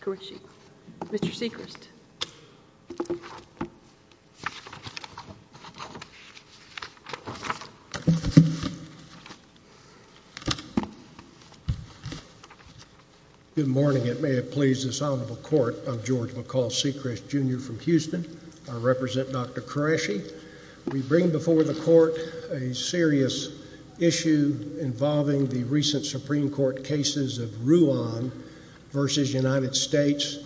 Good morning, it may have pleased this honorable court, I'm George McCall Sechrist, Jr. from Houston. I represent Dr. Qureshi. We bring before the court a serious issue involving the recent Supreme Court cases of Ruan v. United States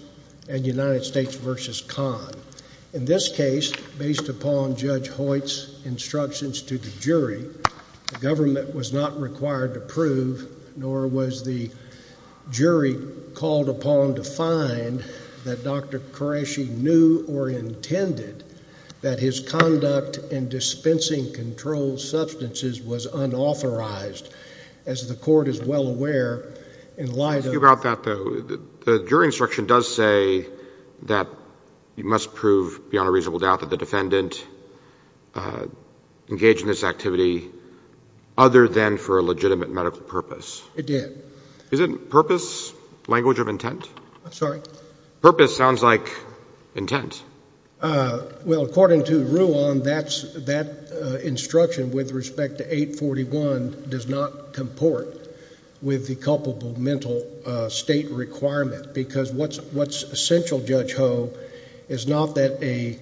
and United States v. Khan. In this case, based upon Judge Hoyt's instructions to the jury, the government was not required to prove nor was the jury called upon to find that Dr. Qureshi knew or intended that his defense was wrong. As the court is well aware, in light of the fact that the jury instruction does say that you must prove beyond a reasonable doubt that the defendant engaged in this activity other than for a legitimate medical purpose. Is it purpose, language of intent? I'm sorry? Purpose sounds like intent. Well, according to Ruan, that instruction with respect to 841 does not comport with the culpable mental state requirement. Because what's essential, Judge Ho, is not that a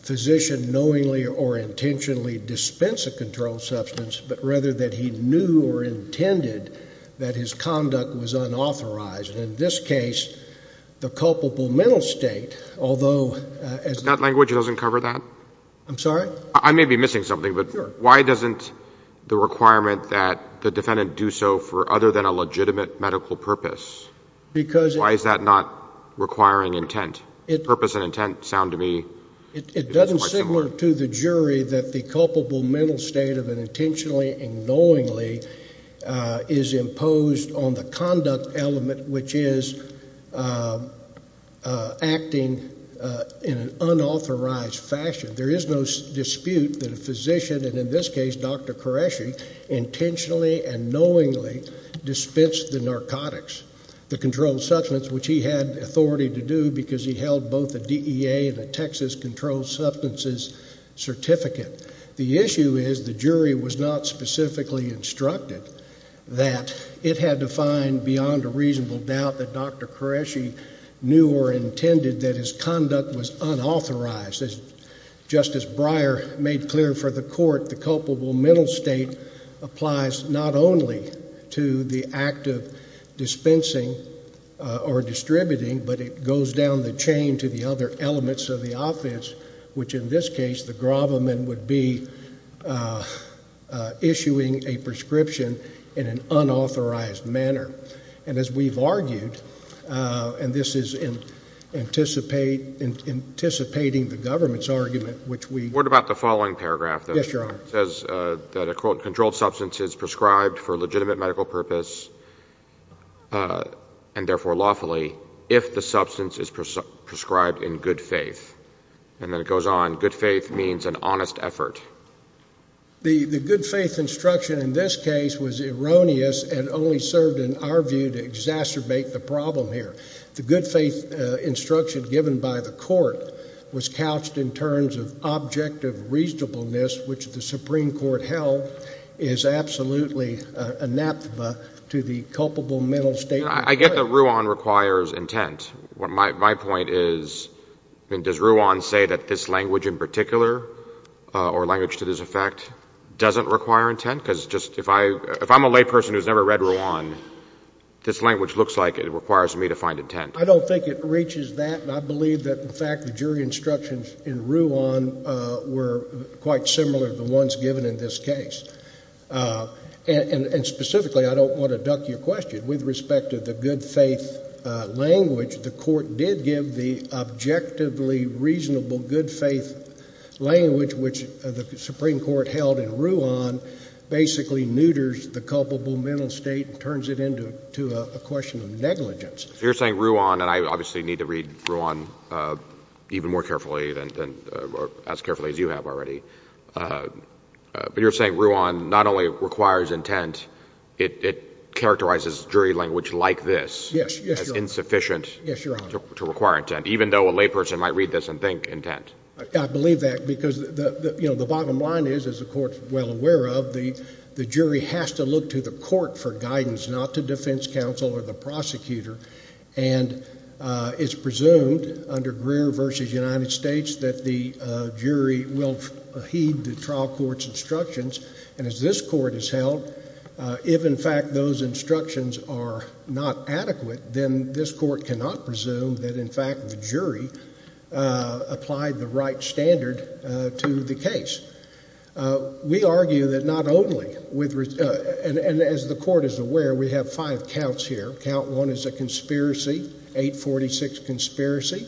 physician knowingly or intentionally dispense a controlled substance, but rather that he knew or intended that his conduct was unauthorized. And in this case, the culpable mental state requirement, although— If that language doesn't cover that? I'm sorry? I may be missing something, but why doesn't the requirement that the defendant do so for other than a legitimate medical purpose? Why is that not requiring intent? Purpose and intent sound to me quite similar. It doesn't seem to the jury that the culpable mental state of an intentionally and knowingly is imposed on the conduct element, which is acting in an unauthorized fashion. There is no dispute that a physician, and in this case, Dr. Qureshi, intentionally and knowingly dispensed the narcotics, the controlled substance, which he had authority to do because he held both a DEA and a Texas Controlled Substances Certificate. The issue is the jury was not specifically instructed that. It had to find beyond a reasonable doubt that Dr. Qureshi knew or intended that his conduct was unauthorized. As Justice Breyer made clear for the Court, the culpable mental state applies not only to the act of dispensing or distributing, but it goes down the chain to the other elements of the offense, which in this case, the gravamen would be issuing a prescription in an unauthorized manner. And as we've argued, and this is in anticipating the government's argument, which we... What about the following paragraph that says that a controlled substance is prescribed for legitimate medical purpose, and therefore lawfully, if the substance is prescribed in good faith? And then it goes on, good faith means an honest effort. The good faith instruction in this case was erroneous and only served in our view to exacerbate the problem here. The good faith instruction given by the Court was couched in terms of objective reasonableness, which the Supreme Court held is absolutely a naphtha to the culpable mental state. I get that Ruan requires intent. My point is, I mean, does Ruan say that this language in particular or language to this effect doesn't require intent? Because if I'm a layperson who's never read Ruan, this language looks like it requires me to find intent. I don't think it reaches that, and I believe that, in fact, the jury instructions in Ruan were quite similar to the ones given in this case. And specifically, I don't want to duck your question. With respect to the good faith language, the Court did give the objectively reasonable good faith language, which the Supreme Court held in Ruan basically neuters the culpable mental state and turns it into a question of negligence. So you're saying Ruan, and I obviously need to read Ruan even more carefully than, or as carefully as you have already, but you're saying Ruan not only requires intent, it characterizes jury language like this as insufficient to require intent, even though a layperson might read this and think intent. I believe that, because the bottom line is, as the Court is well aware of, the jury has to look to the Court for guidance, not to defense counsel or the prosecutor. And it's presumed under Greer v. United States that the jury will heed the trial court's instructions. And as this Court has held, if, in fact, those instructions are not adequate, then this Court cannot presume that, in fact, the jury applied the right standard to the case. We argue that not only, and as the Court is aware, we have five counts here. Count one is a conspiracy, 846 conspiracy.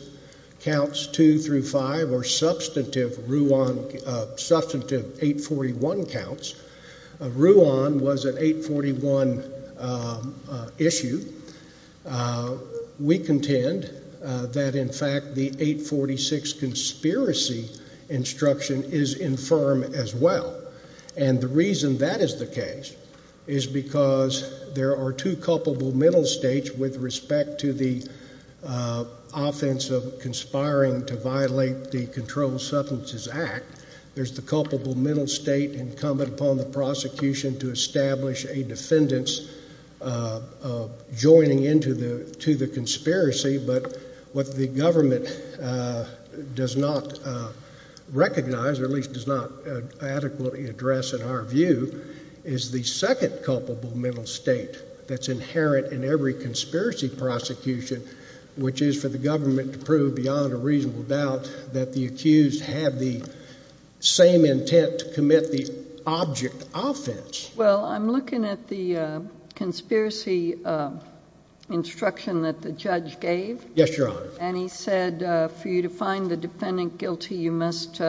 Counts two through five are substantive Ruan, substantive 841 counts. Ruan was an 841 issue. We contend that, in fact, the 846 conspiracy instruction is infirm as well. And the reason that is the case is because there are two culpable mental states with respect to the offense of conspiring to violate the Controlled Substances Act. There's the culpable mental state incumbent upon the prosecution to establish a defendant's joining into the conspiracy. But what the government does not recognize, or at least does not adequately address, in our view, is the second culpable mental state that's inherent in every conspiracy prosecution, which is for the government to prove beyond a reasonable doubt that the accused had the same intent to commit the object offense. Well, I'm looking at the conspiracy instruction that the judge gave. Yes, Your Honor. And he said for you to find the defendant guilty, you must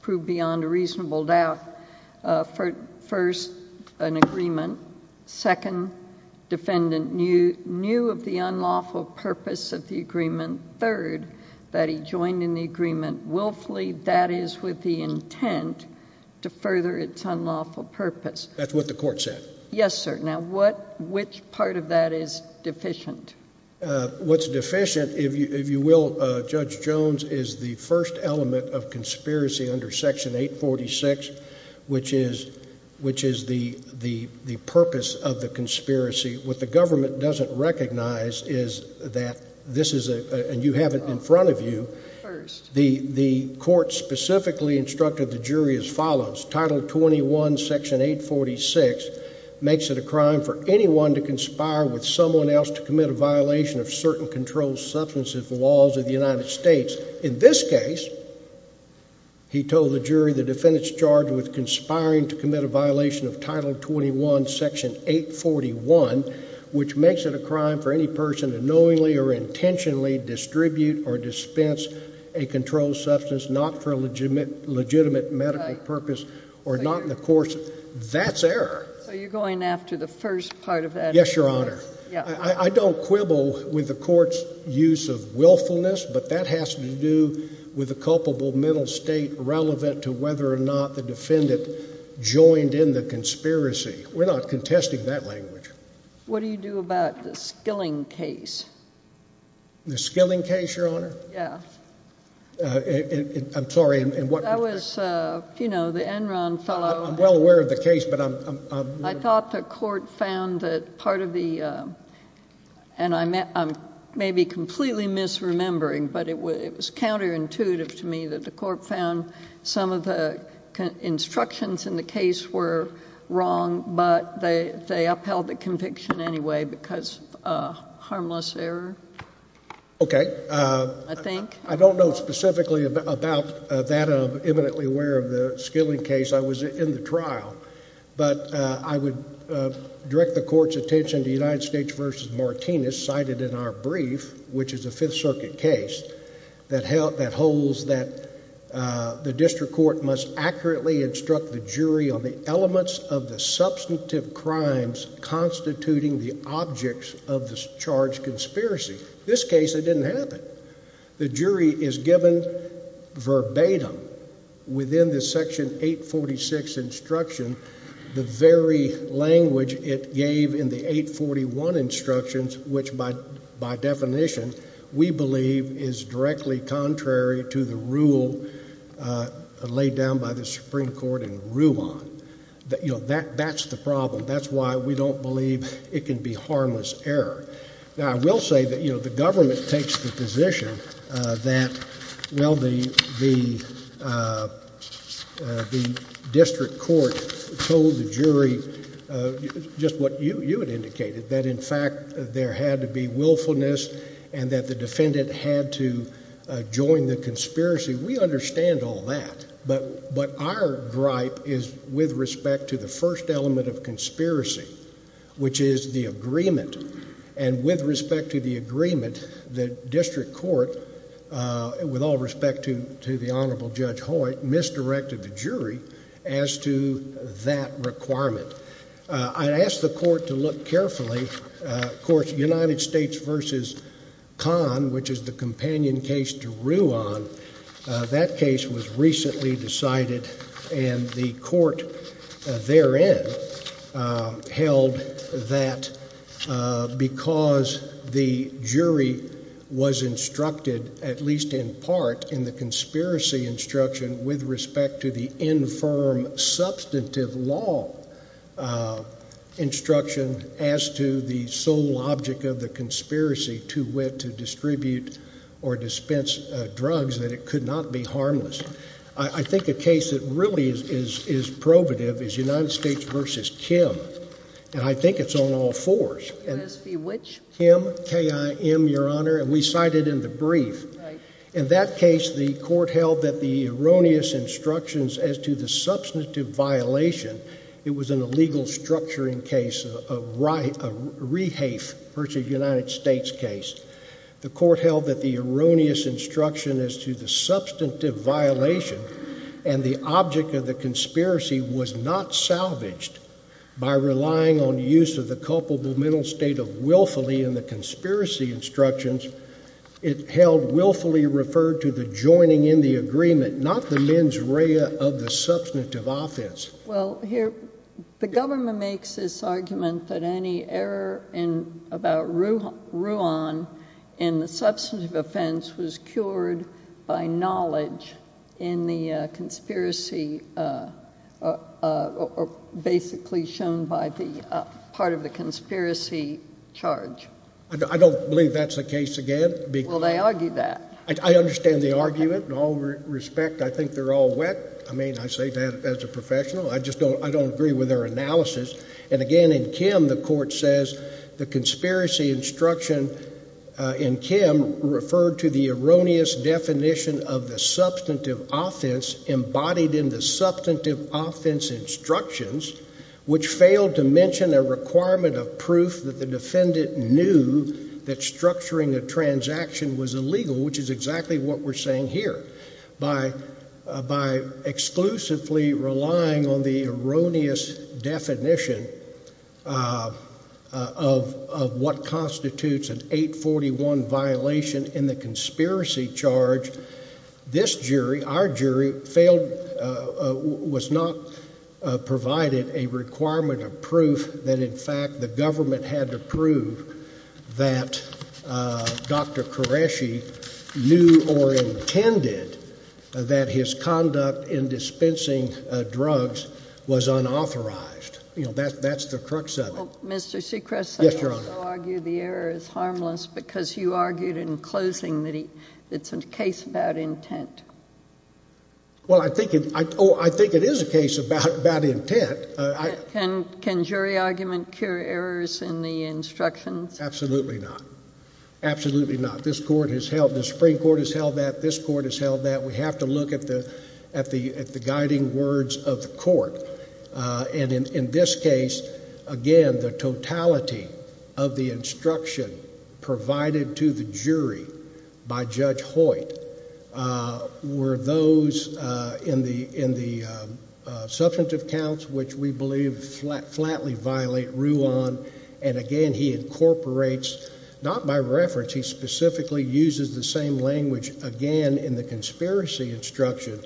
prove beyond a reasonable doubt. First, an agreement. Second, defendant knew of the unlawful purpose of the agreement. Third, that he joined in the agreement willfully, that is, with the intent to further its unlawful purpose. That's what the court said. Yes, sir. Now, which part of that is deficient? What's deficient, if you will, Judge Jones, is the first element of conspiracy under Section 846, which is the purpose of the conspiracy. What the government doesn't recognize is that this is a, and you have it in front of you, the court specifically instructed the jury as follows. Title 21, Section 846 makes it a crime for anyone to conspire with someone else to commit a violation of certain controlled substance laws of the United States. In this case, he told the jury the defendant's charged with conspiring to commit a violation of Title 21, Section 846, which is a crime for any person to knowingly or intentionally distribute or dispense a controlled substance, not for a legitimate medical purpose or not in the courts. That's error. So you're going after the first part of that? Yes, Your Honor. I don't quibble with the court's use of willfulness, but that has to do with the culpable mental state relevant to whether or not the defendant joined in the conspiracy. We're not contesting that language. What do you do about the Skilling case? The Skilling case, Your Honor? Yeah. I'm sorry. And what? I was, you know, the Enron fellow. I'm well aware of the case, but I'm. I thought the court found that part of the and I may be completely misremembering, but it was counterintuitive to me that the court found some of the instructions in the case were wrong, but they they upheld the conviction anyway because of harmless error. OK, I think I don't know specifically about that. I'm eminently aware of the Skilling case. I was in the trial, but I would direct the court's attention to United States versus Martinez cited in our brief, which is a Fifth Circuit case that held that holds that the district court must accurately instruct the jury on the elements of the substantive crimes constituting the objects of the charge conspiracy. This case, it didn't happen. The jury is given verbatim within the Section 846 instruction, the very language it gave in the 841 instructions, which by by definition, we believe is directly contrary to the rule laid down by the Supreme Court in Ruan that, you know, that that's the problem. That's why we don't believe it can be harmless error. Now, I will say that, you know, the government takes the position that, well, the the the district court told the jury just what you you had indicated, that, in fact, there had to be willfulness and that the defendant had to join the conspiracy. We understand all that. But but our gripe is with respect to the first element of conspiracy, which is the agreement and with respect to the agreement, the district court, with all respect to to the Honorable Judge Hoyt, misdirected the jury as to that requirement. I asked the court to look carefully. Of course, United States versus Kahn, which is the companion case to Ruan, that case was recently decided and the court therein held that because the jury was instructed, at least in part, in the conspiracy instruction with respect to the infirm substantive law instruction as to the sole object of the conspiracy to wit to distribute or dispense drugs, that it could not be harmless. I think a case that really is is is probative is United States versus Kim, and I think it's on all fours. And which him? K.I.M, Your Honor, and we cited in the brief. In that case, the court held that the erroneous instructions as to the substantive violation, it was an illegal structuring case of right of rehafe versus United States case. The court held that the erroneous instruction as to the substantive violation and the object of the conspiracy was not salvaged by relying on use of the culpable mental state of willfully in the conspiracy instructions. It held willfully referred to the joining in the agreement, not the mens rea of the substantive offense. Well, here the government makes this argument that any error in about Rouhan in the substantive offense was cured by knowledge in the conspiracy or basically shown by the part of the conspiracy charge. I don't believe that's the case again. Well, they argue that. I understand the argument in all respect. I think they're all wet. I mean, I say that as a professional. I just don't I don't agree with their analysis. And again, in K.I.M., the court says the conspiracy instruction in K.I.M. referred to the erroneous definition of the substantive offense embodied in the substantive offense instructions, which failed to mention a requirement of proof that the defendant knew that structuring a transaction was illegal, which is exactly what we're saying here by by exclusively relying on the erroneous definition of of what constitutes an 841 violation in the conspiracy charge. This jury, our jury failed, was not provided a requirement of proof that, in fact, the defendant intended that his conduct in dispensing drugs was unauthorized. You know, that's that's the crux of it. Mr. Seacrest, I argue the error is harmless because you argued in closing that it's a case about intent. Well, I think I think it is a case about bad intent. And can jury argument cure errors in the instructions? Absolutely not. Absolutely not. This court has held the Supreme Court has held that this court has held that we have to look at the at the at the guiding words of the court. And in this case, again, the totality of the instruction provided to the jury by Judge Hoyt were those in the in the substantive counts, which we believe flat flatly violate rule on. And again, he incorporates not by reference. He specifically uses the same language again in the conspiracy instruction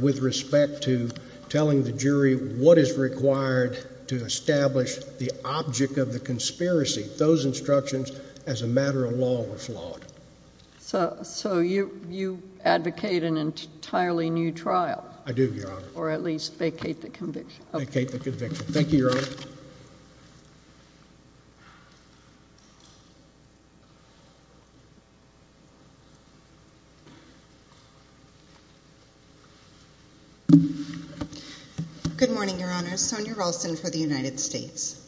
with respect to telling the jury what is required to establish the object of the conspiracy. Those instructions as a matter of law were flawed. So so you you advocate an entirely new trial. I do, Your Honor. Or at least vacate the conviction. Vacate the conviction. Thank you, Your Honor. Good morning, Your Honor. Sonia Ralston for the United States.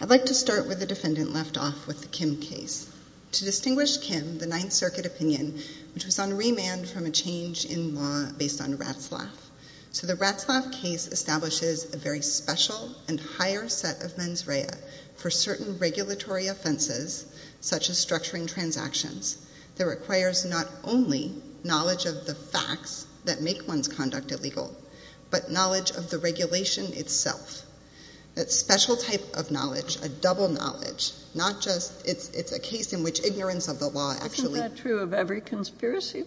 I'd like to start with the defendant left off with the Kim case. To distinguish Kim, the Ninth Circuit opinion, which was on remand from a change in law based on Ratzlaff. So the Ratzlaff case establishes a very special and higher set of mens rea for certain regulatory offenses such as structuring transactions that requires not only knowledge of the facts that make one's conduct illegal, but knowledge of the regulation itself. That special type of knowledge, a double knowledge, not just it's a case in which ignorance of the law actually true of every conspiracy.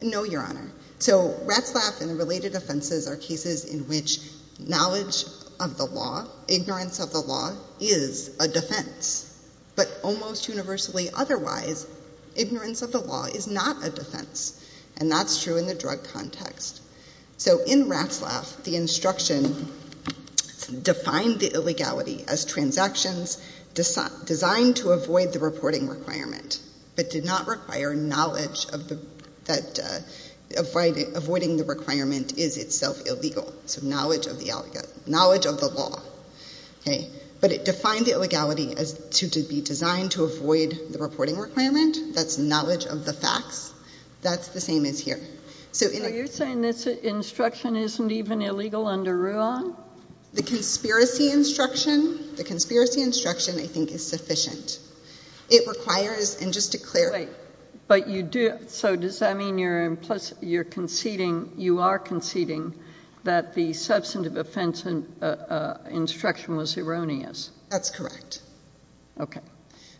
No, Your Honor. So Ratzlaff and the related offenses are cases in which knowledge of the law, ignorance of the law is a defense, but almost universally otherwise, ignorance of the law is not a defense. And that's true in the drug context. So in Ratzlaff, the instruction defined the illegality as transactions designed to avoid the reporting requirement, but did not require knowledge of the, that avoiding the requirement is itself illegal. So knowledge of the knowledge of the law. Okay. But it defined the illegality as to be designed to avoid the reporting requirement. That's knowledge of the facts. That's the same as here. So you're saying this instruction isn't even illegal under RUA? The conspiracy instruction, the conspiracy instruction, I think is sufficient. It requires, and just to clarify, but you do, so does that mean you're implicit, you're conceding, you are conceding that the substantive offense instruction was erroneous? That's correct. Okay.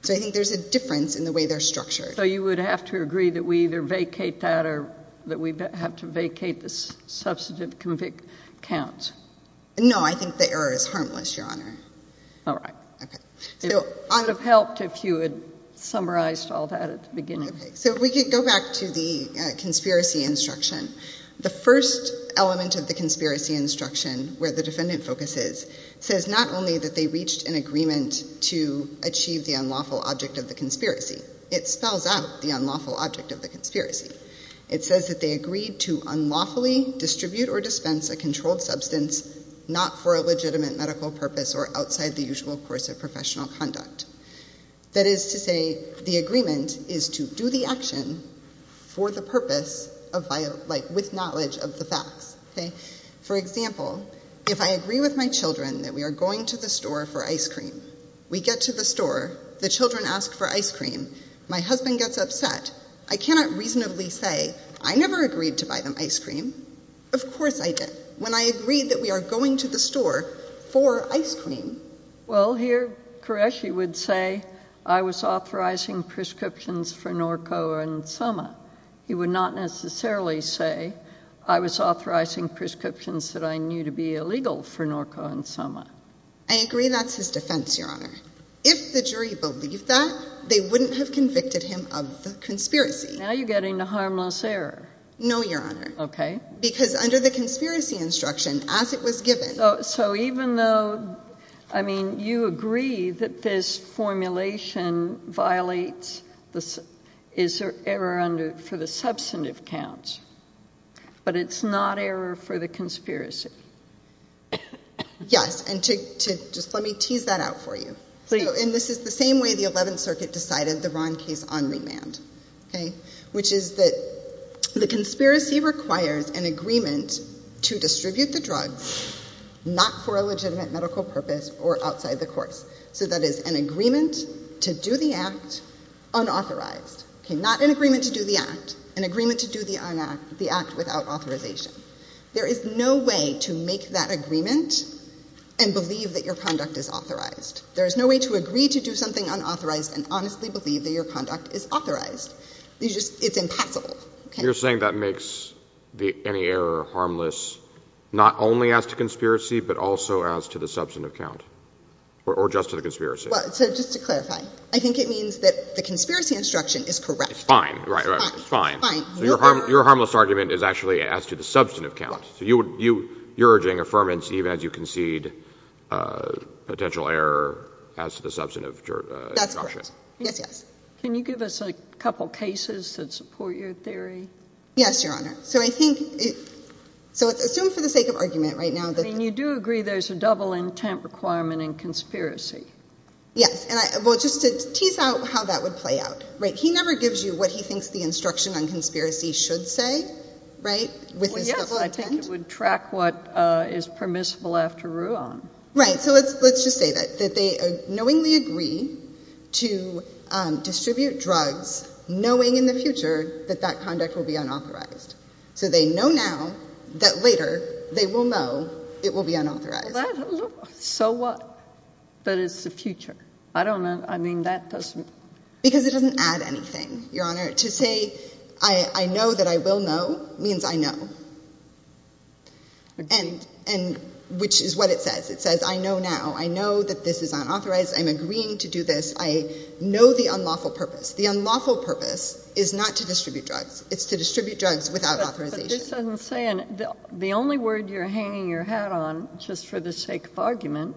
So I think there's a difference in the way they're structured. So you would have to agree that we either vacate that or that we have to vacate this substantive convict counts. No, I think the error is harmless, Your Honor. All right. Okay. So it would have helped if you had summarized all that at the beginning. So we could go back to the conspiracy instruction. The first element of the conspiracy instruction where the defendant focuses says not only that they reached an agreement to achieve the unlawful object of the conspiracy, it spells out the unlawful object of the conspiracy. It says that they agreed to unlawfully distribute or dispense a controlled substance, not for a legitimate medical purpose or outside the usual course of professional conduct. That is to say, the agreement is to do the action for the purpose of, like with knowledge of the facts. Okay. For example, if I agree with my children that we are going to the store for ice cream, we get to the store, the children ask for ice cream, my husband gets upset, I cannot reasonably say I never agreed to buy them ice cream. Of course I did. When I agreed that we are going to the store for ice cream. Well, here Koreshi would say I was authorizing prescriptions for Norco and Soma. He would not necessarily say I was authorizing prescriptions that I knew to be illegal for Norco and Soma. I agree. That's his defense, Your Honor. If the jury believed that they wouldn't have convicted him of the conspiracy. Now you're getting the harmless error. No, Your Honor. Okay. Because under the conspiracy instruction, as it was given. So even though, I mean, you agree that this formulation violates, is there error under, for the substantive counts, but it's not error for the conspiracy. Yes. And to, to just, let me tease that out for you. So, and this is the same way the 11th circuit decided the Ron case on remand. Okay. Which is that the conspiracy requires an agreement to distribute the drugs, not for a legitimate medical purpose or outside the courts. So that is an agreement to do the act unauthorized. Okay. Not an agreement to do the act, an agreement to do the act without authorization. There is no way to make that agreement and believe that your conduct is authorized. There is no way to agree to do something unauthorized and honestly believe that your conduct is authorized. You just, it's impassable. You're saying that makes the, any error harmless, not only as to conspiracy, but also as to the substantive count or, or just to the conspiracy. So just to clarify, I think it means that the conspiracy instruction is correct. It's fine. Right. Right. It's fine. Your harmless argument is actually as to the substantive count. So you would, you, you're urging affirmance, even as you concede a potential error as to the substantive. That's correct. Yes. Yes. Can you give us a couple of cases that support your theory? Yes, Your Honor. So I think, so it's assumed for the sake of argument right now. I mean, you do agree there's a double intent requirement in conspiracy. Yes. And I, well, just to tease out how that would play out, right? He never gives you what he thinks the instruction on conspiracy should say. Right. With this double intent. It would track what is permissible after Ruan. Right. So let's, let's just say that, that they are knowingly agree to distribute drugs, knowing in the future that that conduct will be unauthorized. So they know now that later they will know it will be unauthorized. So what? But it's the future. I don't know. I mean, that doesn't, because it doesn't add anything, Your Honor to say, I know that I will know means I know, and, and which is what it says. It says, I know now, I know that this is unauthorized. I'm agreeing to do this. I know the unlawful purpose. The unlawful purpose is not to distribute drugs. It's to distribute drugs without authorization. This doesn't say, and the only word you're hanging your hat on just for the sake of argument,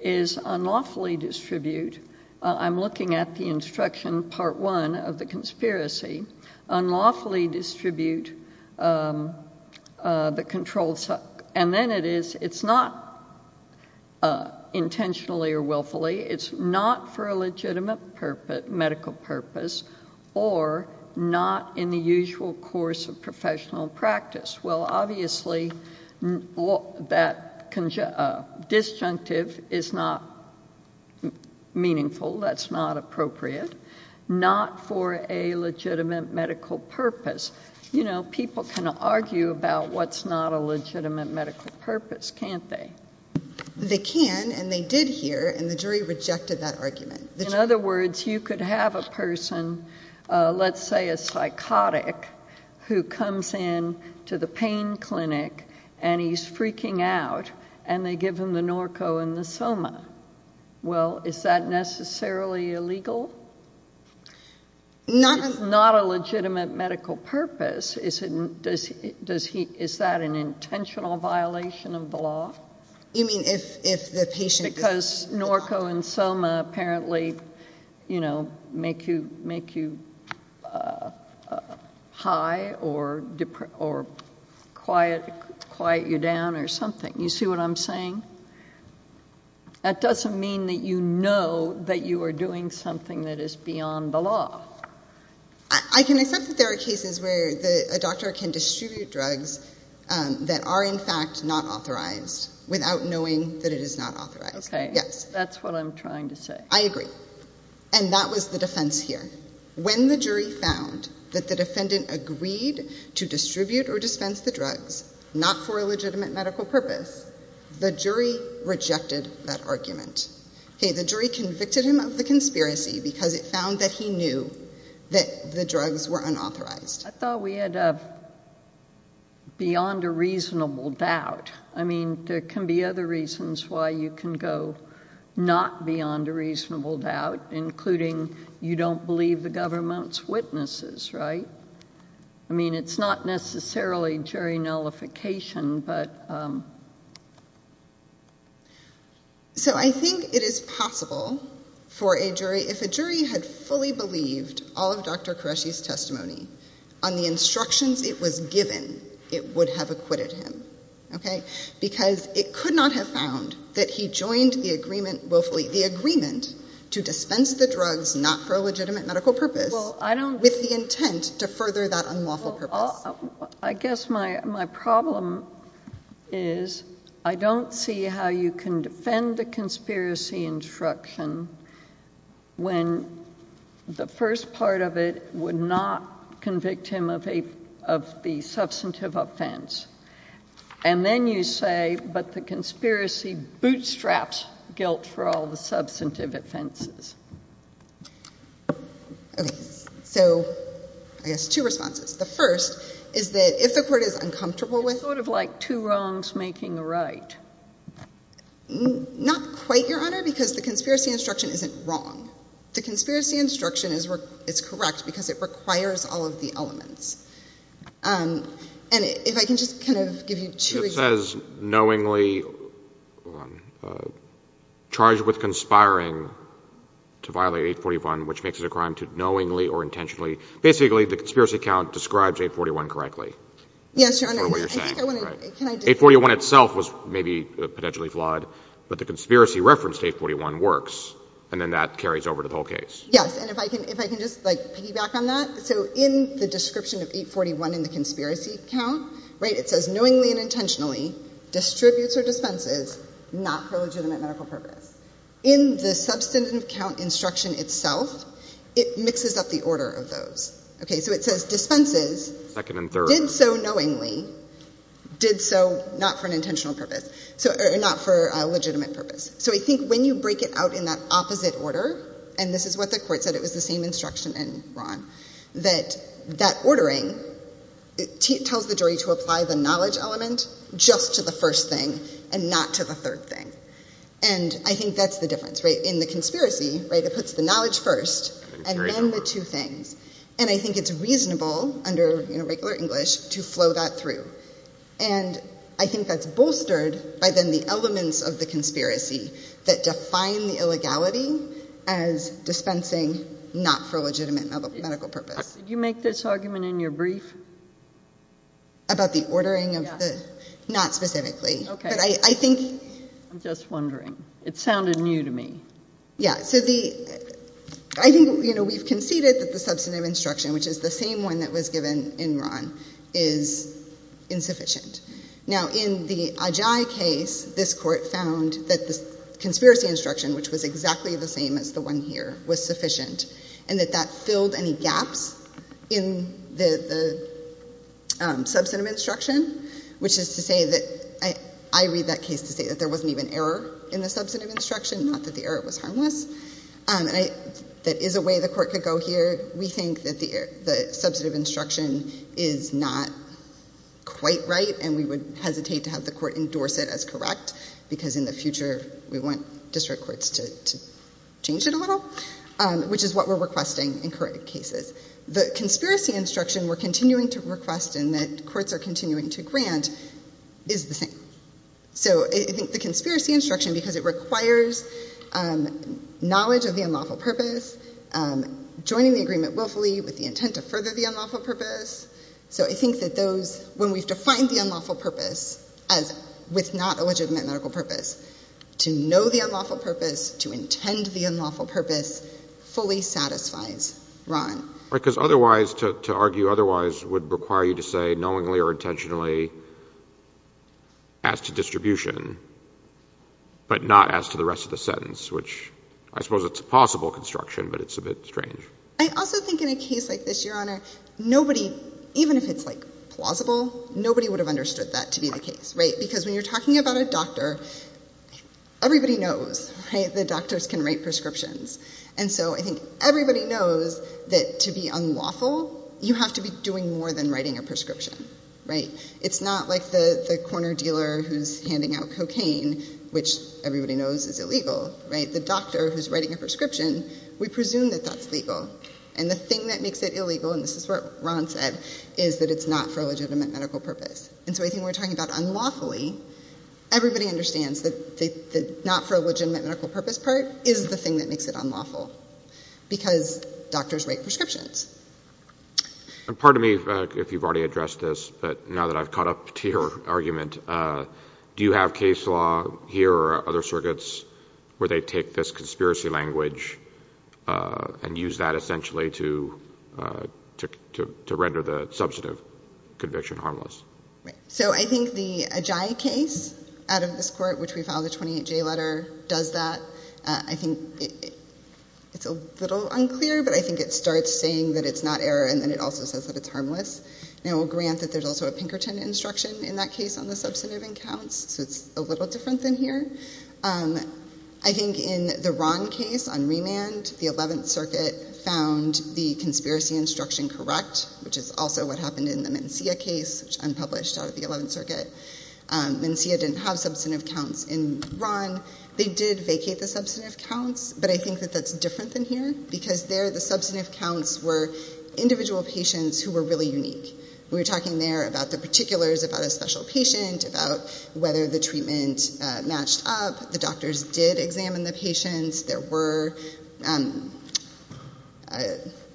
is unlawfully distribute. I'm looking at the instruction part one of the conspiracy, unlawfully distribute, um, uh, the control. And then it is, it's not, uh, intentionally or willfully. It's not for a legitimate purpose, medical purpose, or not in the usual course of professional practice. Well, obviously that conjunct, uh, disjunctive is not meaningful. That's not appropriate. Not for a legitimate medical purpose. You know, people can argue about what's not a legitimate medical purpose, can't they? They can, and they did hear, and the jury rejected that argument. In other words, you could have a person, uh, let's say a psychotic who comes in to the pain clinic and he's freaking out and they give him the Norco and the Soma, well, is that necessarily illegal? Not a legitimate medical purpose. Is it, does he, does he, is that an intentional violation of the law? You mean if, if the patient... Because Norco and Soma apparently, you know, make you, make you, uh, uh, high or depressed or quiet, quiet you down or something. You see what I'm saying? That doesn't mean that you know that you are doing something that is beyond the law. I can accept that there are cases where the, a doctor can distribute drugs, um, that are in fact not authorized without knowing that it is not authorized. Okay. Yes. That's what I'm trying to say. I agree. And that was the defense here. When the jury found that the defendant agreed to distribute or dispense the drugs, not for a legitimate medical purpose, the jury rejected that argument. Okay. The jury convicted him of the conspiracy because it found that he knew that the drugs were unauthorized. I thought we had a beyond a reasonable doubt. I mean, there can be other reasons why you can go not beyond a reasonable doubt, including you don't believe the government's witnesses, right? I mean, it's not necessarily jury nullification, but, um... So I think it is possible for a jury, if a jury had fully believed all of Dr. Qureshi's testimony on the instructions it was given, it would have acquitted him. Okay. Because it could not have found that he joined the agreement willfully, the agreement to dispense the drugs, not for a legitimate medical purpose, with the intent to further that unlawful purpose. I guess my, my problem is I don't see how you can defend the conspiracy instruction when the first part of it would not convict him of a, of the substantive offense, and then you say, but the conspiracy bootstraps guilt for all the substantive offenses. Okay. So I guess two responses. The first is that if the court is uncomfortable with... It's sort of like two wrongs making a right. Not quite, Your Honor, because the conspiracy instruction isn't wrong. The conspiracy instruction is, is correct because it requires all of the elements. Um, and if I can just kind of give you two examples... It says knowingly charged with conspiring to violate 841, which makes it a crime to knowingly or intentionally. Basically, the conspiracy count describes 841 correctly. Yes, Your Honor. I think I want to... 841 itself was maybe potentially flawed, but the conspiracy reference to 841 works. And then that carries over to the whole case. Yes. And if I can, if I can just like piggyback on that. So in the description of 841 in the conspiracy count, right, it says knowingly and intentionally distributes or dispenses, not for legitimate medical purpose. In the substantive count instruction itself, it mixes up the order of those. Okay. So it says dispenses, did so knowingly, did so not for an intentional purpose. So not for a legitimate purpose. So I think when you break it out in that opposite order, and this is what the court said, it was the same instruction in Ron, that that ordering tells the jury to apply the knowledge element just to the first thing and not to the third thing. And I think that's the difference, right? In the conspiracy, right? It puts the knowledge first and then the two things. And I think it's reasonable under regular English to flow that through. And I think that's bolstered by then the elements of the conspiracy that define the illegality as dispensing, not for a legitimate medical purpose. Did you make this argument in your brief? About the ordering of the, not specifically. Okay. But I think. I'm just wondering, it sounded new to me. Yeah. So the, I think, you know, we've conceded that the substantive instruction, which is the same one that was given in Ron, is insufficient. Now in the Ajay case, this court found that the conspiracy instruction, which was exactly the same as the one here, was sufficient, and that that filled any I read that case to say that there wasn't even error in the substantive instruction, not that the error was harmless. And I, that is a way the court could go here. We think that the, the substantive instruction is not quite right. And we would hesitate to have the court endorse it as correct because in the future we want district courts to change it a little, which is what we're requesting in current cases. The conspiracy instruction we're continuing to request and that courts are continuing to grant is the same. So I think the conspiracy instruction, because it requires knowledge of the unlawful purpose, joining the agreement willfully with the intent of further the unlawful purpose. So I think that those, when we've defined the unlawful purpose as with not a legitimate medical purpose, to know the unlawful purpose, to intend the unlawful purpose fully satisfies Ron. Right. Because otherwise to argue otherwise would require you to say knowingly or knowingly to ask the distribution, but not as to the rest of the sentence, which I suppose it's a possible construction, but it's a bit strange. I also think in a case like this, your honor, nobody, even if it's like plausible, nobody would have understood that to be the case, right? Because when you're talking about a doctor, everybody knows, right? The doctors can write prescriptions. And so I think everybody knows that to be unlawful, you have to be doing more than writing a prescription, right? It's not like the corner dealer who's handing out cocaine, which everybody knows is illegal, right? The doctor who's writing a prescription, we presume that that's legal. And the thing that makes it illegal, and this is what Ron said, is that it's not for a legitimate medical purpose. And so I think we're talking about unlawfully, everybody understands that the not for a legitimate medical purpose part is the thing that makes it unlawful because doctors write prescriptions. And pardon me if you've already addressed this, but now that I've caught up to your argument, do you have case law here or other circuits where they take this conspiracy language and use that essentially to, to, to render the substantive conviction harmless? Right. So I think the Ajayi case out of this court, which we filed the 28 J letter, does that, I think it's a little unclear, but I think it starts saying that it's not error and then it also says that it's harmless. Now we'll grant that there's also a Pinkerton instruction in that case on the substantive in counts. So it's a little different than here. I think in the Ron case on remand, the 11th circuit found the conspiracy instruction correct, which is also what happened in the Mencia case, which unpublished out of the 11th circuit. Mencia didn't have substantive counts in Ron. They did vacate the substantive counts, but I think that that's different than here because there the substantive counts were individual patients who were really unique. We were talking there about the particulars, about a special patient, about whether the treatment matched up. The doctors did examine the patients. There were,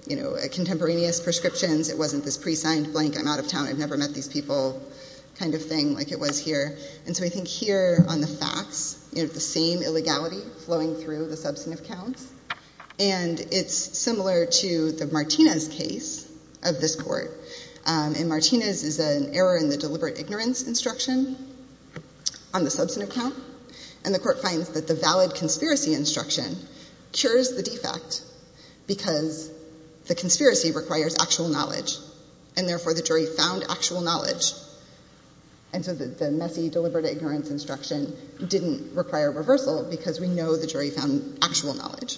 you know, contemporaneous prescriptions. It wasn't this pre-signed blank. I'm out of town. I've never met these people kind of thing like it was here. And so I think here on the facts, you have the same illegality flowing through the substantive counts and it's similar to the Martinez case of this court and Martinez is an error in the deliberate ignorance instruction on the substantive count and the court finds that the valid conspiracy instruction cures the defect because the conspiracy requires actual knowledge and therefore the jury found actual knowledge. And so the messy deliberate ignorance instruction didn't require reversal because we know the jury found actual knowledge.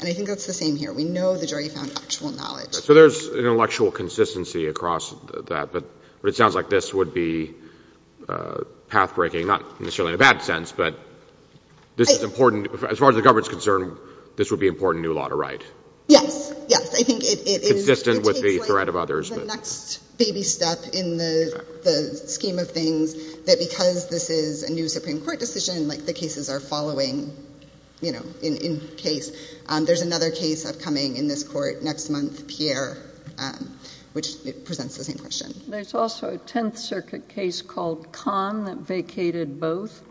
And I think that's the same here. We know the jury found actual knowledge. So there's intellectual consistency across that, but it sounds like this would be pathbreaking, not necessarily in a bad sense, but this is important as far as the government's concerned, this would be important new law to write. Yes. Yes. I think it is consistent with the threat of others. The next baby step in the scheme of things that because this is a new Supreme Court decision, like the cases are following, you know, in case there's another case upcoming in this court next month, Pierre, which presents the same question. There's also a 10th circuit case called Khan that vacated both.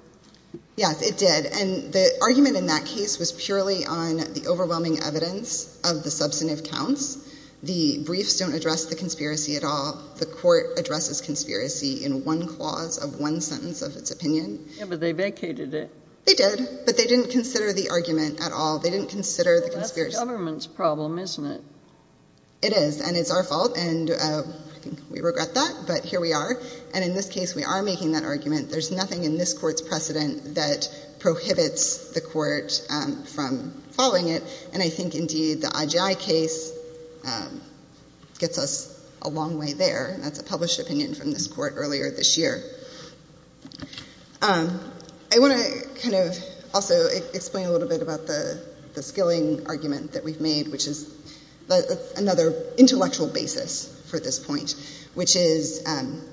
Yes, it did. And the argument in that case was purely on the overwhelming evidence of the substantive counts. The briefs don't address the conspiracy at all. The court addresses conspiracy in one clause of one sentence of its opinion. Yeah, but they vacated it. They did, but they didn't consider the argument at all. They didn't consider the conspiracy. That's the government's problem, isn't it? It is. And it's our fault. And we regret that, but here we are. And in this case, we are making that argument. There's nothing in this court's precedent that prohibits the court from following it. And I think indeed the IGI case gets us a long way there. And that's a published opinion from this court earlier this year. I want to kind of also explain a little bit about the skilling argument that we've made, which is another intellectual basis for this point, which is,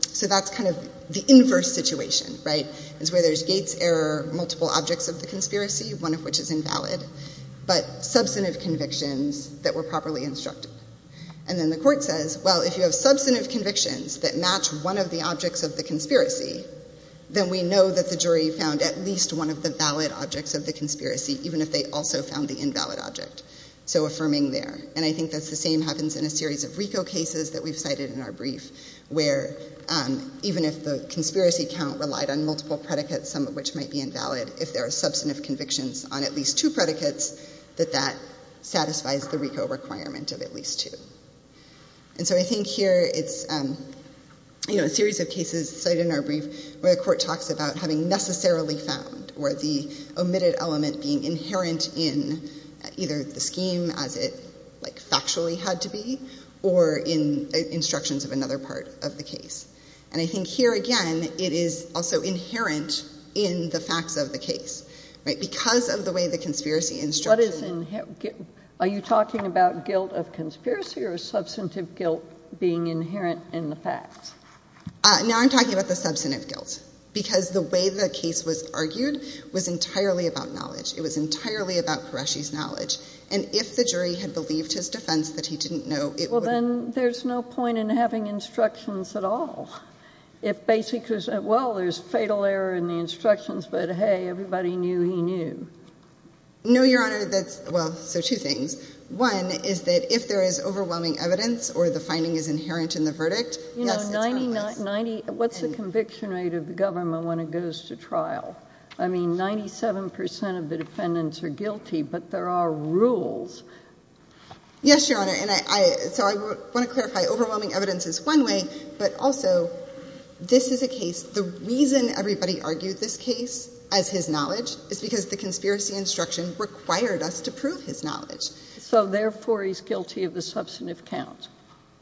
so that's kind of the inverse situation, right? It's where there's gates, error, multiple objects of the conspiracy, one of which is invalid, but substantive convictions that were properly instructed. And then the court says, well, if you have substantive convictions that match one of the objects of the conspiracy, then we know that the jury found at least one of the valid objects of the conspiracy, even if they also found the invalid object. So affirming there. And I think that's the same happens in a series of RICO cases that we've cited in our brief, where even if the conspiracy count relied on multiple predicates, some of which might be invalid, if there are substantive convictions on at least two predicates, that that satisfies the RICO requirement of at least two. And so I think here it's, you know, a series of cases cited in our brief where the court talks about having necessarily found or the omitted element being inherent in either the scheme as it like factually had to be, or in instructions of another part of the case. And I think here again, it is also inherent in the facts of the case, right? Because of the way the conspiracy instruction. What is in, are you talking about guilt of conspiracy or substantive guilt being inherent in the facts? Now I'm talking about the substantive guilt, because the way the case was argued was entirely about knowledge. It was entirely about Qureshi's knowledge. And if the jury had believed his defense that he didn't know. Well, then there's no point in having instructions at all. If basically, well, there's fatal error in the instructions, but hey, everybody knew he knew. No, Your Honor. That's well, so two things. One is that if there is overwhelming evidence or the finding is inherent in the verdict, what's the conviction rate of the government when it goes to trial? I mean, 97% of the defendants are guilty, but there are rules. Yes, Your Honor. And I, so I want to clarify overwhelming evidence is one way, but also this is a case. The reason everybody argued this case as his knowledge is because the conspiracy instruction required us to prove his knowledge. So therefore he's guilty of the substantive count.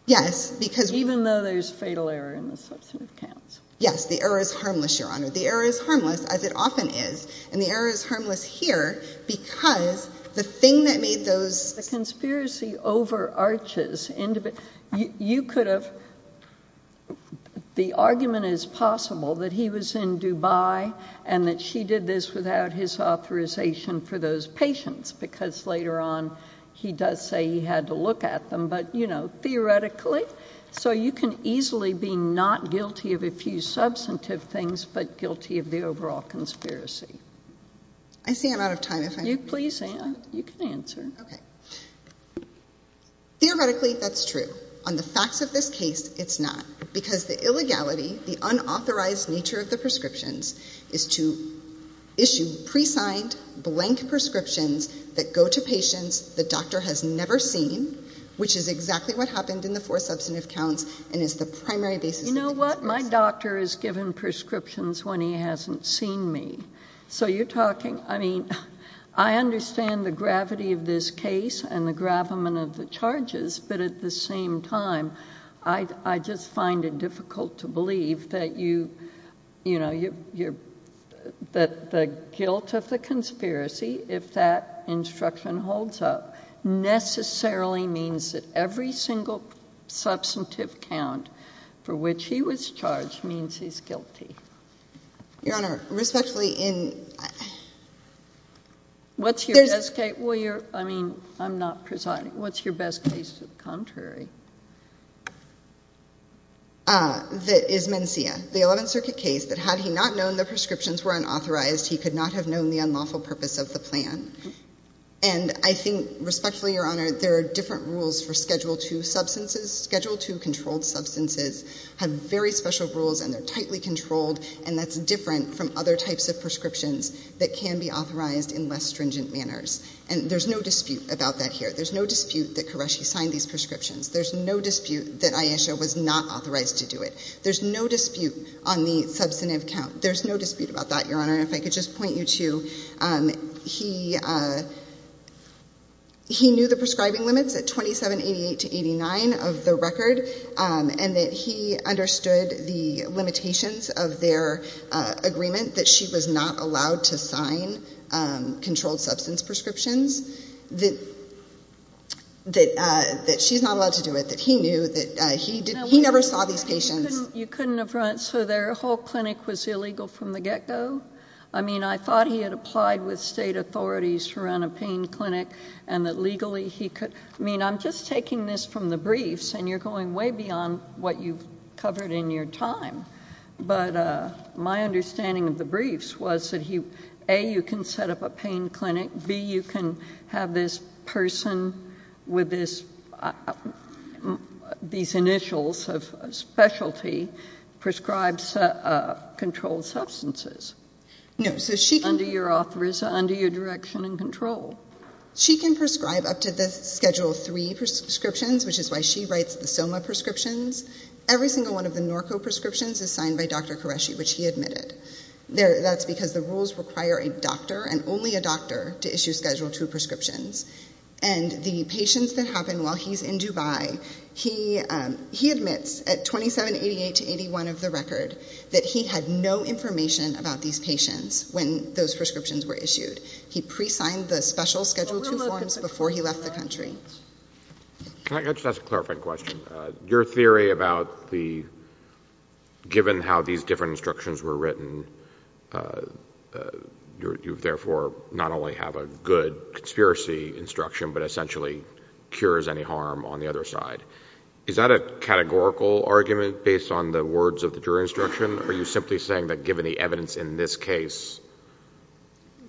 Yes, because even though there's fatal error in the substantive counts, yes, the error is harmless. Your Honor, the error is harmless as it often is. And the error is harmless here because the thing that made those, the conspiracy over arches into, you could have, the argument is possible that he was in Dubai and that she did this without his authorization for those patients. Because later on, he does say he had to look at them, but you know, theoretically, so you can easily be not guilty of a few substantive things, but guilty of the overall conspiracy. I see I'm out of time. If you please, you can answer. Theoretically, that's true. On the facts of this case, it's not because the illegality, the unauthorized nature of the prescriptions is to issue pre-signed blank prescriptions that go to patients the doctor has never seen, which is exactly what happened in the four substantive counts and is the primary basis. You know what? My doctor is given prescriptions when he hasn't seen me. So you're talking, I mean, I understand the gravity of this case and the time. I just find it difficult to believe that you, you know, you're, that the guilt of the conspiracy, if that instruction holds up, necessarily means that every single substantive count for which he was charged means he's guilty. Your Honor, respectfully in. What's your best case? Well, you're, I mean, I'm not presiding. What's your best case to the contrary? Uh, that is Mencia, the 11th circuit case that had he not known the prescriptions were unauthorized, he could not have known the unlawful purpose of the plan. And I think respectfully, Your Honor, there are different rules for schedule two substances. Schedule two controlled substances have very special rules and they're tightly controlled and that's different from other types of prescriptions that can be authorized in less stringent manners. And there's no dispute about that here. There's no dispute that Qureshi signed these prescriptions. There's no dispute that Ayesha was not authorized to do it. There's no dispute on the substantive count. There's no dispute about that, Your Honor. If I could just point you to, um, he, uh, he knew the prescribing limits at 2788 to 89 of the record. Um, and that he understood the limitations of their, uh, agreement that she was not allowed to sign, um, controlled substance prescriptions that, that, uh, that she's not allowed to do it, that he knew that, uh, he did, he never saw these patients. You couldn't have run it. So their whole clinic was illegal from the get go. I mean, I thought he had applied with state authorities to run a pain clinic and that legally he could, I mean, I'm just taking this from the briefs and you're going way beyond what you've covered in your time. But, uh, my understanding of the briefs was that he, A, you can set up a pain clinic, B, you can have this person with this, uh, these initials of specialty prescribes, uh, uh, controlled substances. No. So she can do your author is under your direction and control. She can prescribe up to the schedule three prescriptions, which is why she writes the Soma prescriptions. Every single one of the Norco prescriptions is signed by Dr. Qureshi, which he admitted there. That's because the rules require a doctor and only a doctor to issue schedule two prescriptions. And the patients that happen while he's in Dubai, he, um, he admits at 2788 to 81 of the record that he had no information about these patients. When those prescriptions were issued, he pre-signed the special schedule two forms before he left the country. Can I just ask a clarifying question, uh, your theory about the, given how these different instructions were written, uh, uh, you've therefore not only have a good conspiracy instruction, but essentially cures any harm on the other side, is that a categorical argument based on the words of the jury instruction, or are you simply saying that given the evidence in this case?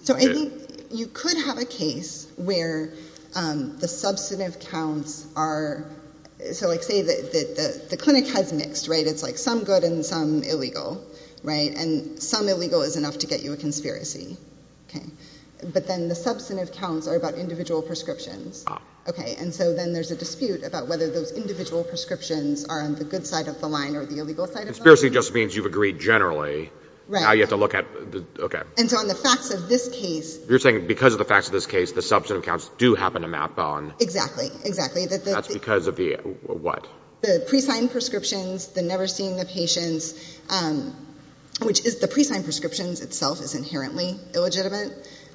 So I think you could have a case where, um, the substantive counts are, so like say that the clinic has mixed, right? It's like some good and some illegal, right? And some illegal is enough to get you a conspiracy. Okay. But then the substantive counts are about individual prescriptions. Okay. And so then there's a dispute about whether those individual prescriptions are on the good side of the line or the illegal side of the line. Conspiracy just means you've agreed generally, you have to look at, okay. And so on the facts of this case, you're saying because of the facts of this case, the substantive counts do happen to map on, exactly, exactly. That's because of the what? The pre-signed prescriptions, the never seeing the patients, um, which is the pre-signed prescriptions itself is inherently illegitimate.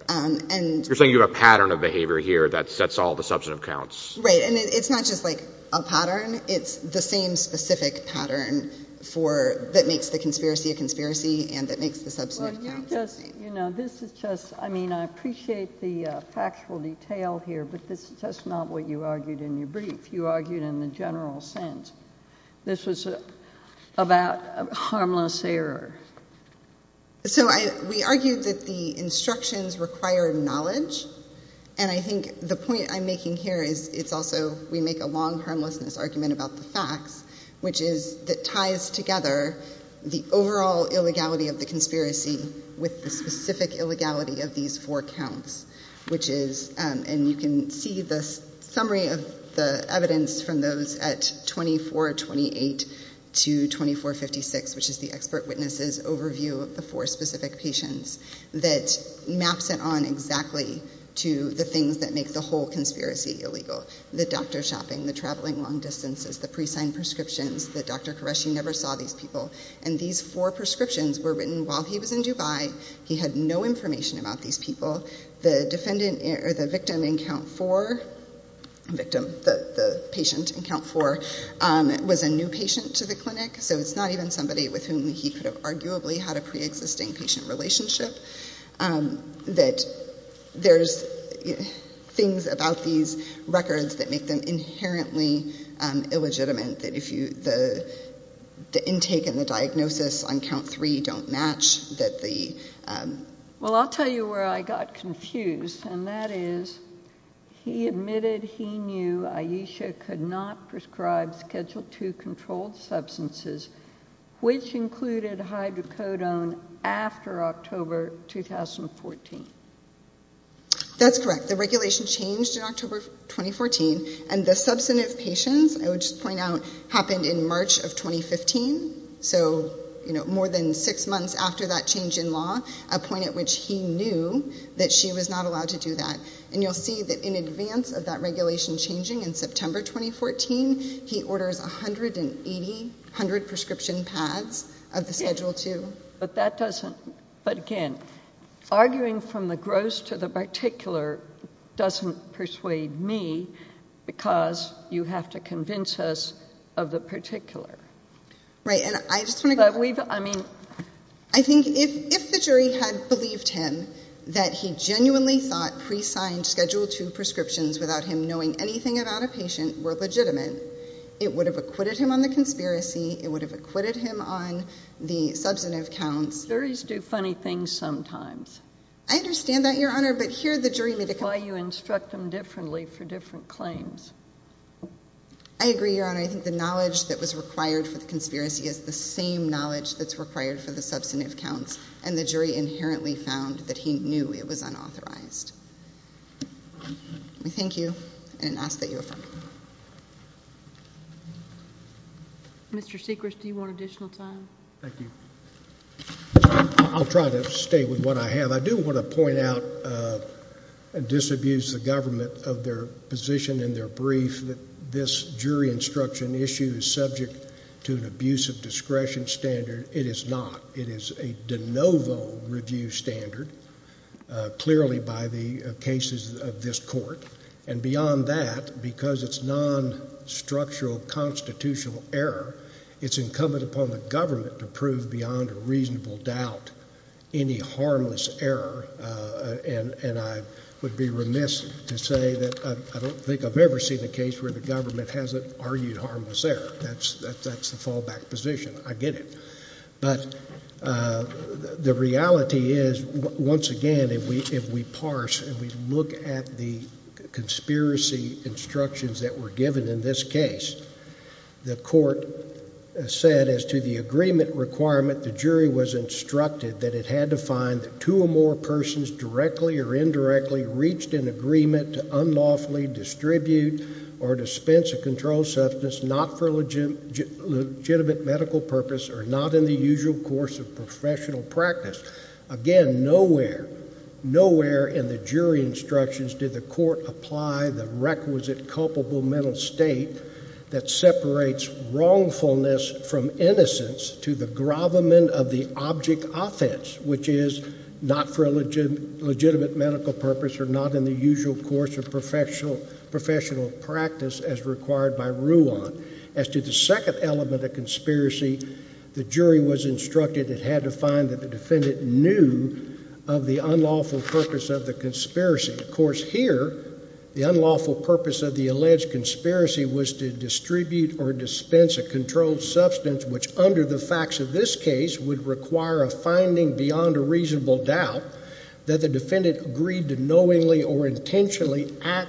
Um, and you're saying you have a pattern of behavior here that sets all the substantive counts, right? And it's not just like a pattern. It's the same specific pattern for that makes the conspiracy, a conspiracy. And that makes the substantive. You know, this is just, I mean, I appreciate the factual detail here, but this is just not what you argued in your brief. You argued in the general sense, this was about harmless error. So I, we argued that the instructions required knowledge. And I think the point I'm making here is it's also, we make a long harmlessness argument about the facts, which is that ties together the overall illegality of the conspiracy with the specific illegality of these four counts, which is, um, and you can see the summary of the evidence from those at 2428 to 2456, which is the expert witnesses overview of the four specific patients that maps it on exactly to the things that make the whole conspiracy illegal. The doctor shopping, the traveling long distances, the pre-signed prescriptions that Dr. Qureshi never saw these people. And these four prescriptions were written while he was in Dubai. He had no information about these people. The defendant or the victim in count four victim, the patient in count four, um, was a new patient to the clinic. So it's not even somebody with whom he could have arguably had a preexisting patient relationship. Um, that there's things about these records that make them inherently, um, illegitimate that if you, the, the intake and the diagnosis on count three don't match that the, um, well, I'll tell you where I got confused. And that is he admitted he knew Ayesha could not prescribe schedule two controlled substances, which included hydrocodone after October, 2014. That's correct. The regulation changed in October, 2014. And the substantive patients I would just point out happened in March of 2015. So, you know, more than six months after that change in law, a point at which he knew that she was not allowed to do that. And you'll see that in advance of that regulation changing in September, 2014, he orders 180, a hundred prescription pads of the schedule too. But that doesn't, but again, arguing from the gross to the particular doesn't persuade me because you have to convince us of the particular. Right. And I just want to, I mean, I think if, if the jury had believed him that he genuinely thought pre-signed schedule two prescriptions without him knowing anything about a patient were legitimate, it would have acquitted him on the conspiracy. It would have acquitted him on the substantive counts. There is do funny things sometimes. I understand that your honor, but here, the jury, why you instruct them differently for different claims. I agree, your honor. I think the knowledge that was required for the conspiracy is the same knowledge that's required for the substantive counts and the jury inherently found that he knew it was unauthorized. We thank you and ask that you affirm. Mr. Seacrest, do you want additional time? Thank you. I'll try to stay with what I have. I do want to point out, uh, and disabuse the government of their position in their brief that this jury instruction issue is subject to an abuse of discretion standard. It is not, it is a de novo review standard, uh, clearly by the cases of this court and beyond that, because it's non-structural constitutional error, it's incumbent upon the government to prove beyond a reasonable doubt, any harmless error, uh, and, and I would be remiss to say that I don't think I've ever seen a case where the government hasn't argued harmless error. That's, that's, that's the fallback position. I get it. But, uh, the reality is once again, if we, if we parse and we look at the conspiracy instructions that were given in this case, the court said as to the more persons directly or indirectly reached an agreement to unlawfully distribute or dispense a control substance, not for legitimate medical purpose or not in the usual course of professional practice. Again, nowhere, nowhere in the jury instructions did the court apply the requisite culpable mental state that separates wrongfulness from innocence to the gravamen of the object offense, which is not for a legitimate medical purpose or not in the usual course of professional, professional practice as required by rule on. As to the second element of conspiracy, the jury was instructed. It had to find that the defendant knew of the unlawful purpose of the conspiracy. Of course, here, the unlawful purpose of the alleged conspiracy was to this case would require a finding beyond a reasonable doubt that the defendant agreed to knowingly or intentionally act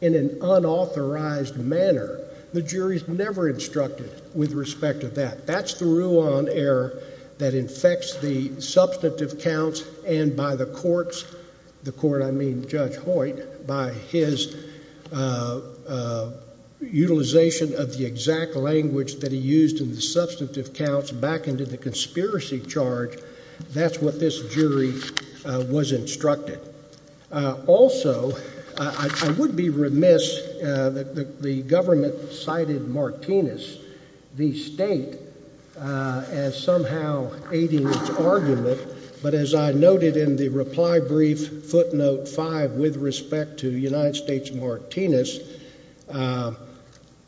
in an unauthorized manner. The jury's never instructed with respect to that. That's the rule on error that infects the substantive counts and by the courts, the court, I mean, Judge Hoyt, by his, uh, uh, utilization of the exact language that he used in the substantive counts back into the conspiracy charge, that's what this jury was instructed. Uh, also, uh, I, I would be remiss, uh, that the, the government cited Martinez, the state, uh, as somehow aiding its argument, but as I noted in the reply brief footnote five, with respect to United States Martinez, uh,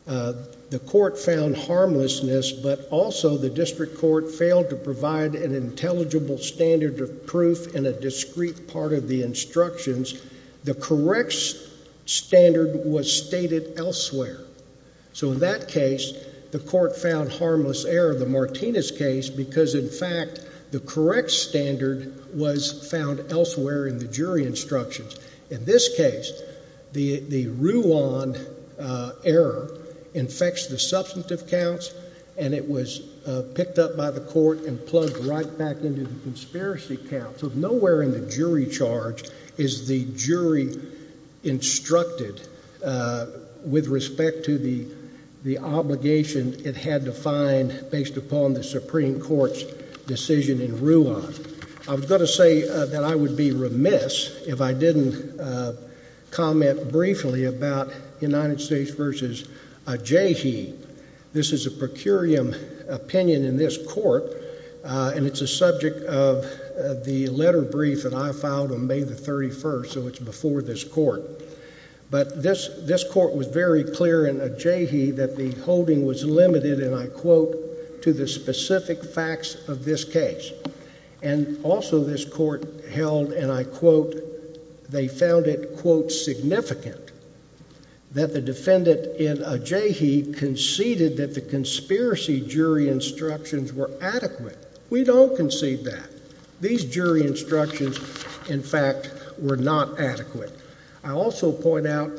uh, the court found harmlessness, but also the district court failed to provide an intelligible standard of proof in a discrete part of the instructions. The correct standard was stated elsewhere. So in that case, the court found harmless error, the Martinez case, because in fact, the correct standard was found elsewhere in the jury instructions. In this case, the, the Ruan, uh, error infects the substantive counts and it was, uh, picked up by the court and plugged right back into the conspiracy counts of nowhere in the jury charge is the jury instructed, uh, with respect to the, the obligation it had to find based upon the Supreme Court's decision in Ruan, I was going to say that I would be remiss if I didn't, uh, comment briefly about United States versus, uh, Jayhi. This is a per curiam opinion in this court. Uh, and it's a subject of the letter brief that I filed on May the 31st. So it's before this court, but this, this court was very clear in a Jayhi that the holding was limited and I quote to the specific facts of this case. And also this court held, and I quote, they found it quote, significant that the defendant in a Jayhi conceded that the conspiracy jury instructions were adequate, we don't concede that. These jury instructions in fact, were not adequate. I also point out,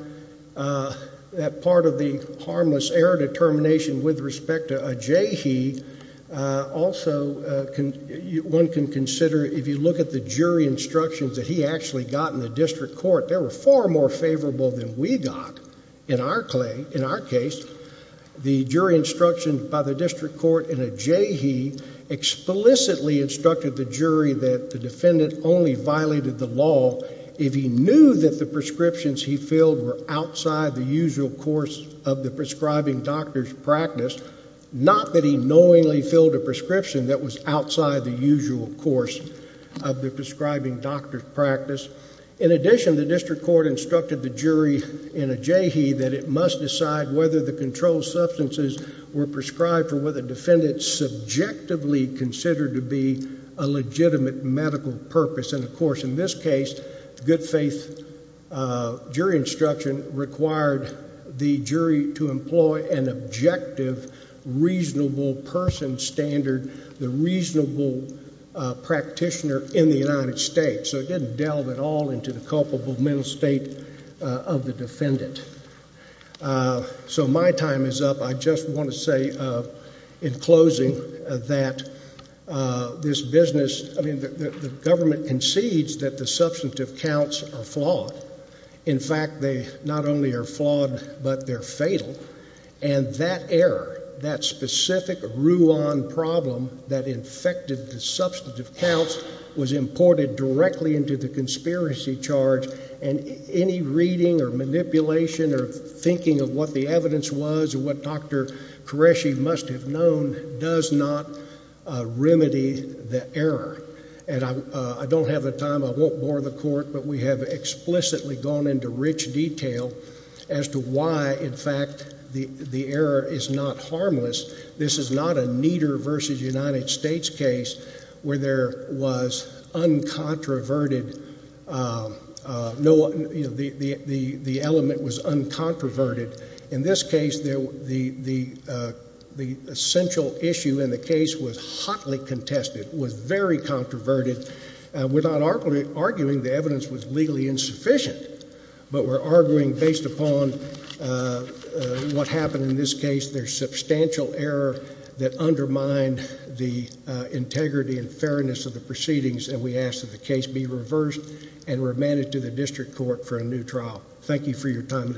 uh, that part of the harmless error determination with respect to a Jayhi, uh, also, uh, can you, one can consider, if you look at the jury instructions that he actually got in the district court, there were far more favorable than we got in our clay, in our case, the jury instruction by the district court in a Jayhi explicitly instructed the jury that the defendant only violated the law. If he knew that the prescriptions he filled were outside the usual course of the prescribing doctor's practice, not that he knowingly filled a prescription that was outside the usual course of the prescribing doctor's practice. In addition, the district court instructed the jury in a Jayhi that it must decide whether the controlled substances were prescribed for what the defendant subjectively considered to be a legitimate medical purpose. And of course, in this case, good faith, uh, jury instruction required the jury to employ an objective, reasonable person standard, the reasonable, uh, practitioner in the United States. So it didn't delve at all into the culpable mental state, uh, of the defendant. Uh, so my time is up. I just want to say, uh, in closing that, uh, this business, I mean, the government concedes that the substantive counts are flawed. In fact, they not only are flawed, but they're fatal. And that error, that specific Ruan problem that infected the substantive counts was imported directly into the conspiracy charge and any reading or manipulation or thinking of what the evidence was or what Dr. Qureshi must have known does not, uh, remedy the error. And I, uh, I don't have the time. I won't bore the court, but we have explicitly gone into rich detail as to why, in fact, the, the error is not harmless. This is not a Nieder versus United States case where there was uncontroverted. Um, uh, no, you know, the, the, the, the element was uncontroverted. In this case, there, the, the, uh, the essential issue in the case was hotly contested, was very controverted. Uh, we're not arguing the evidence was legally insufficient, but we're arguing based upon, uh, uh, what happened in this case, there's substantial error that undermined the, uh, integrity and fairness of the proceedings and we asked that the case be reversed and remanded to the district court for a new trial. Thank you for your time and attention.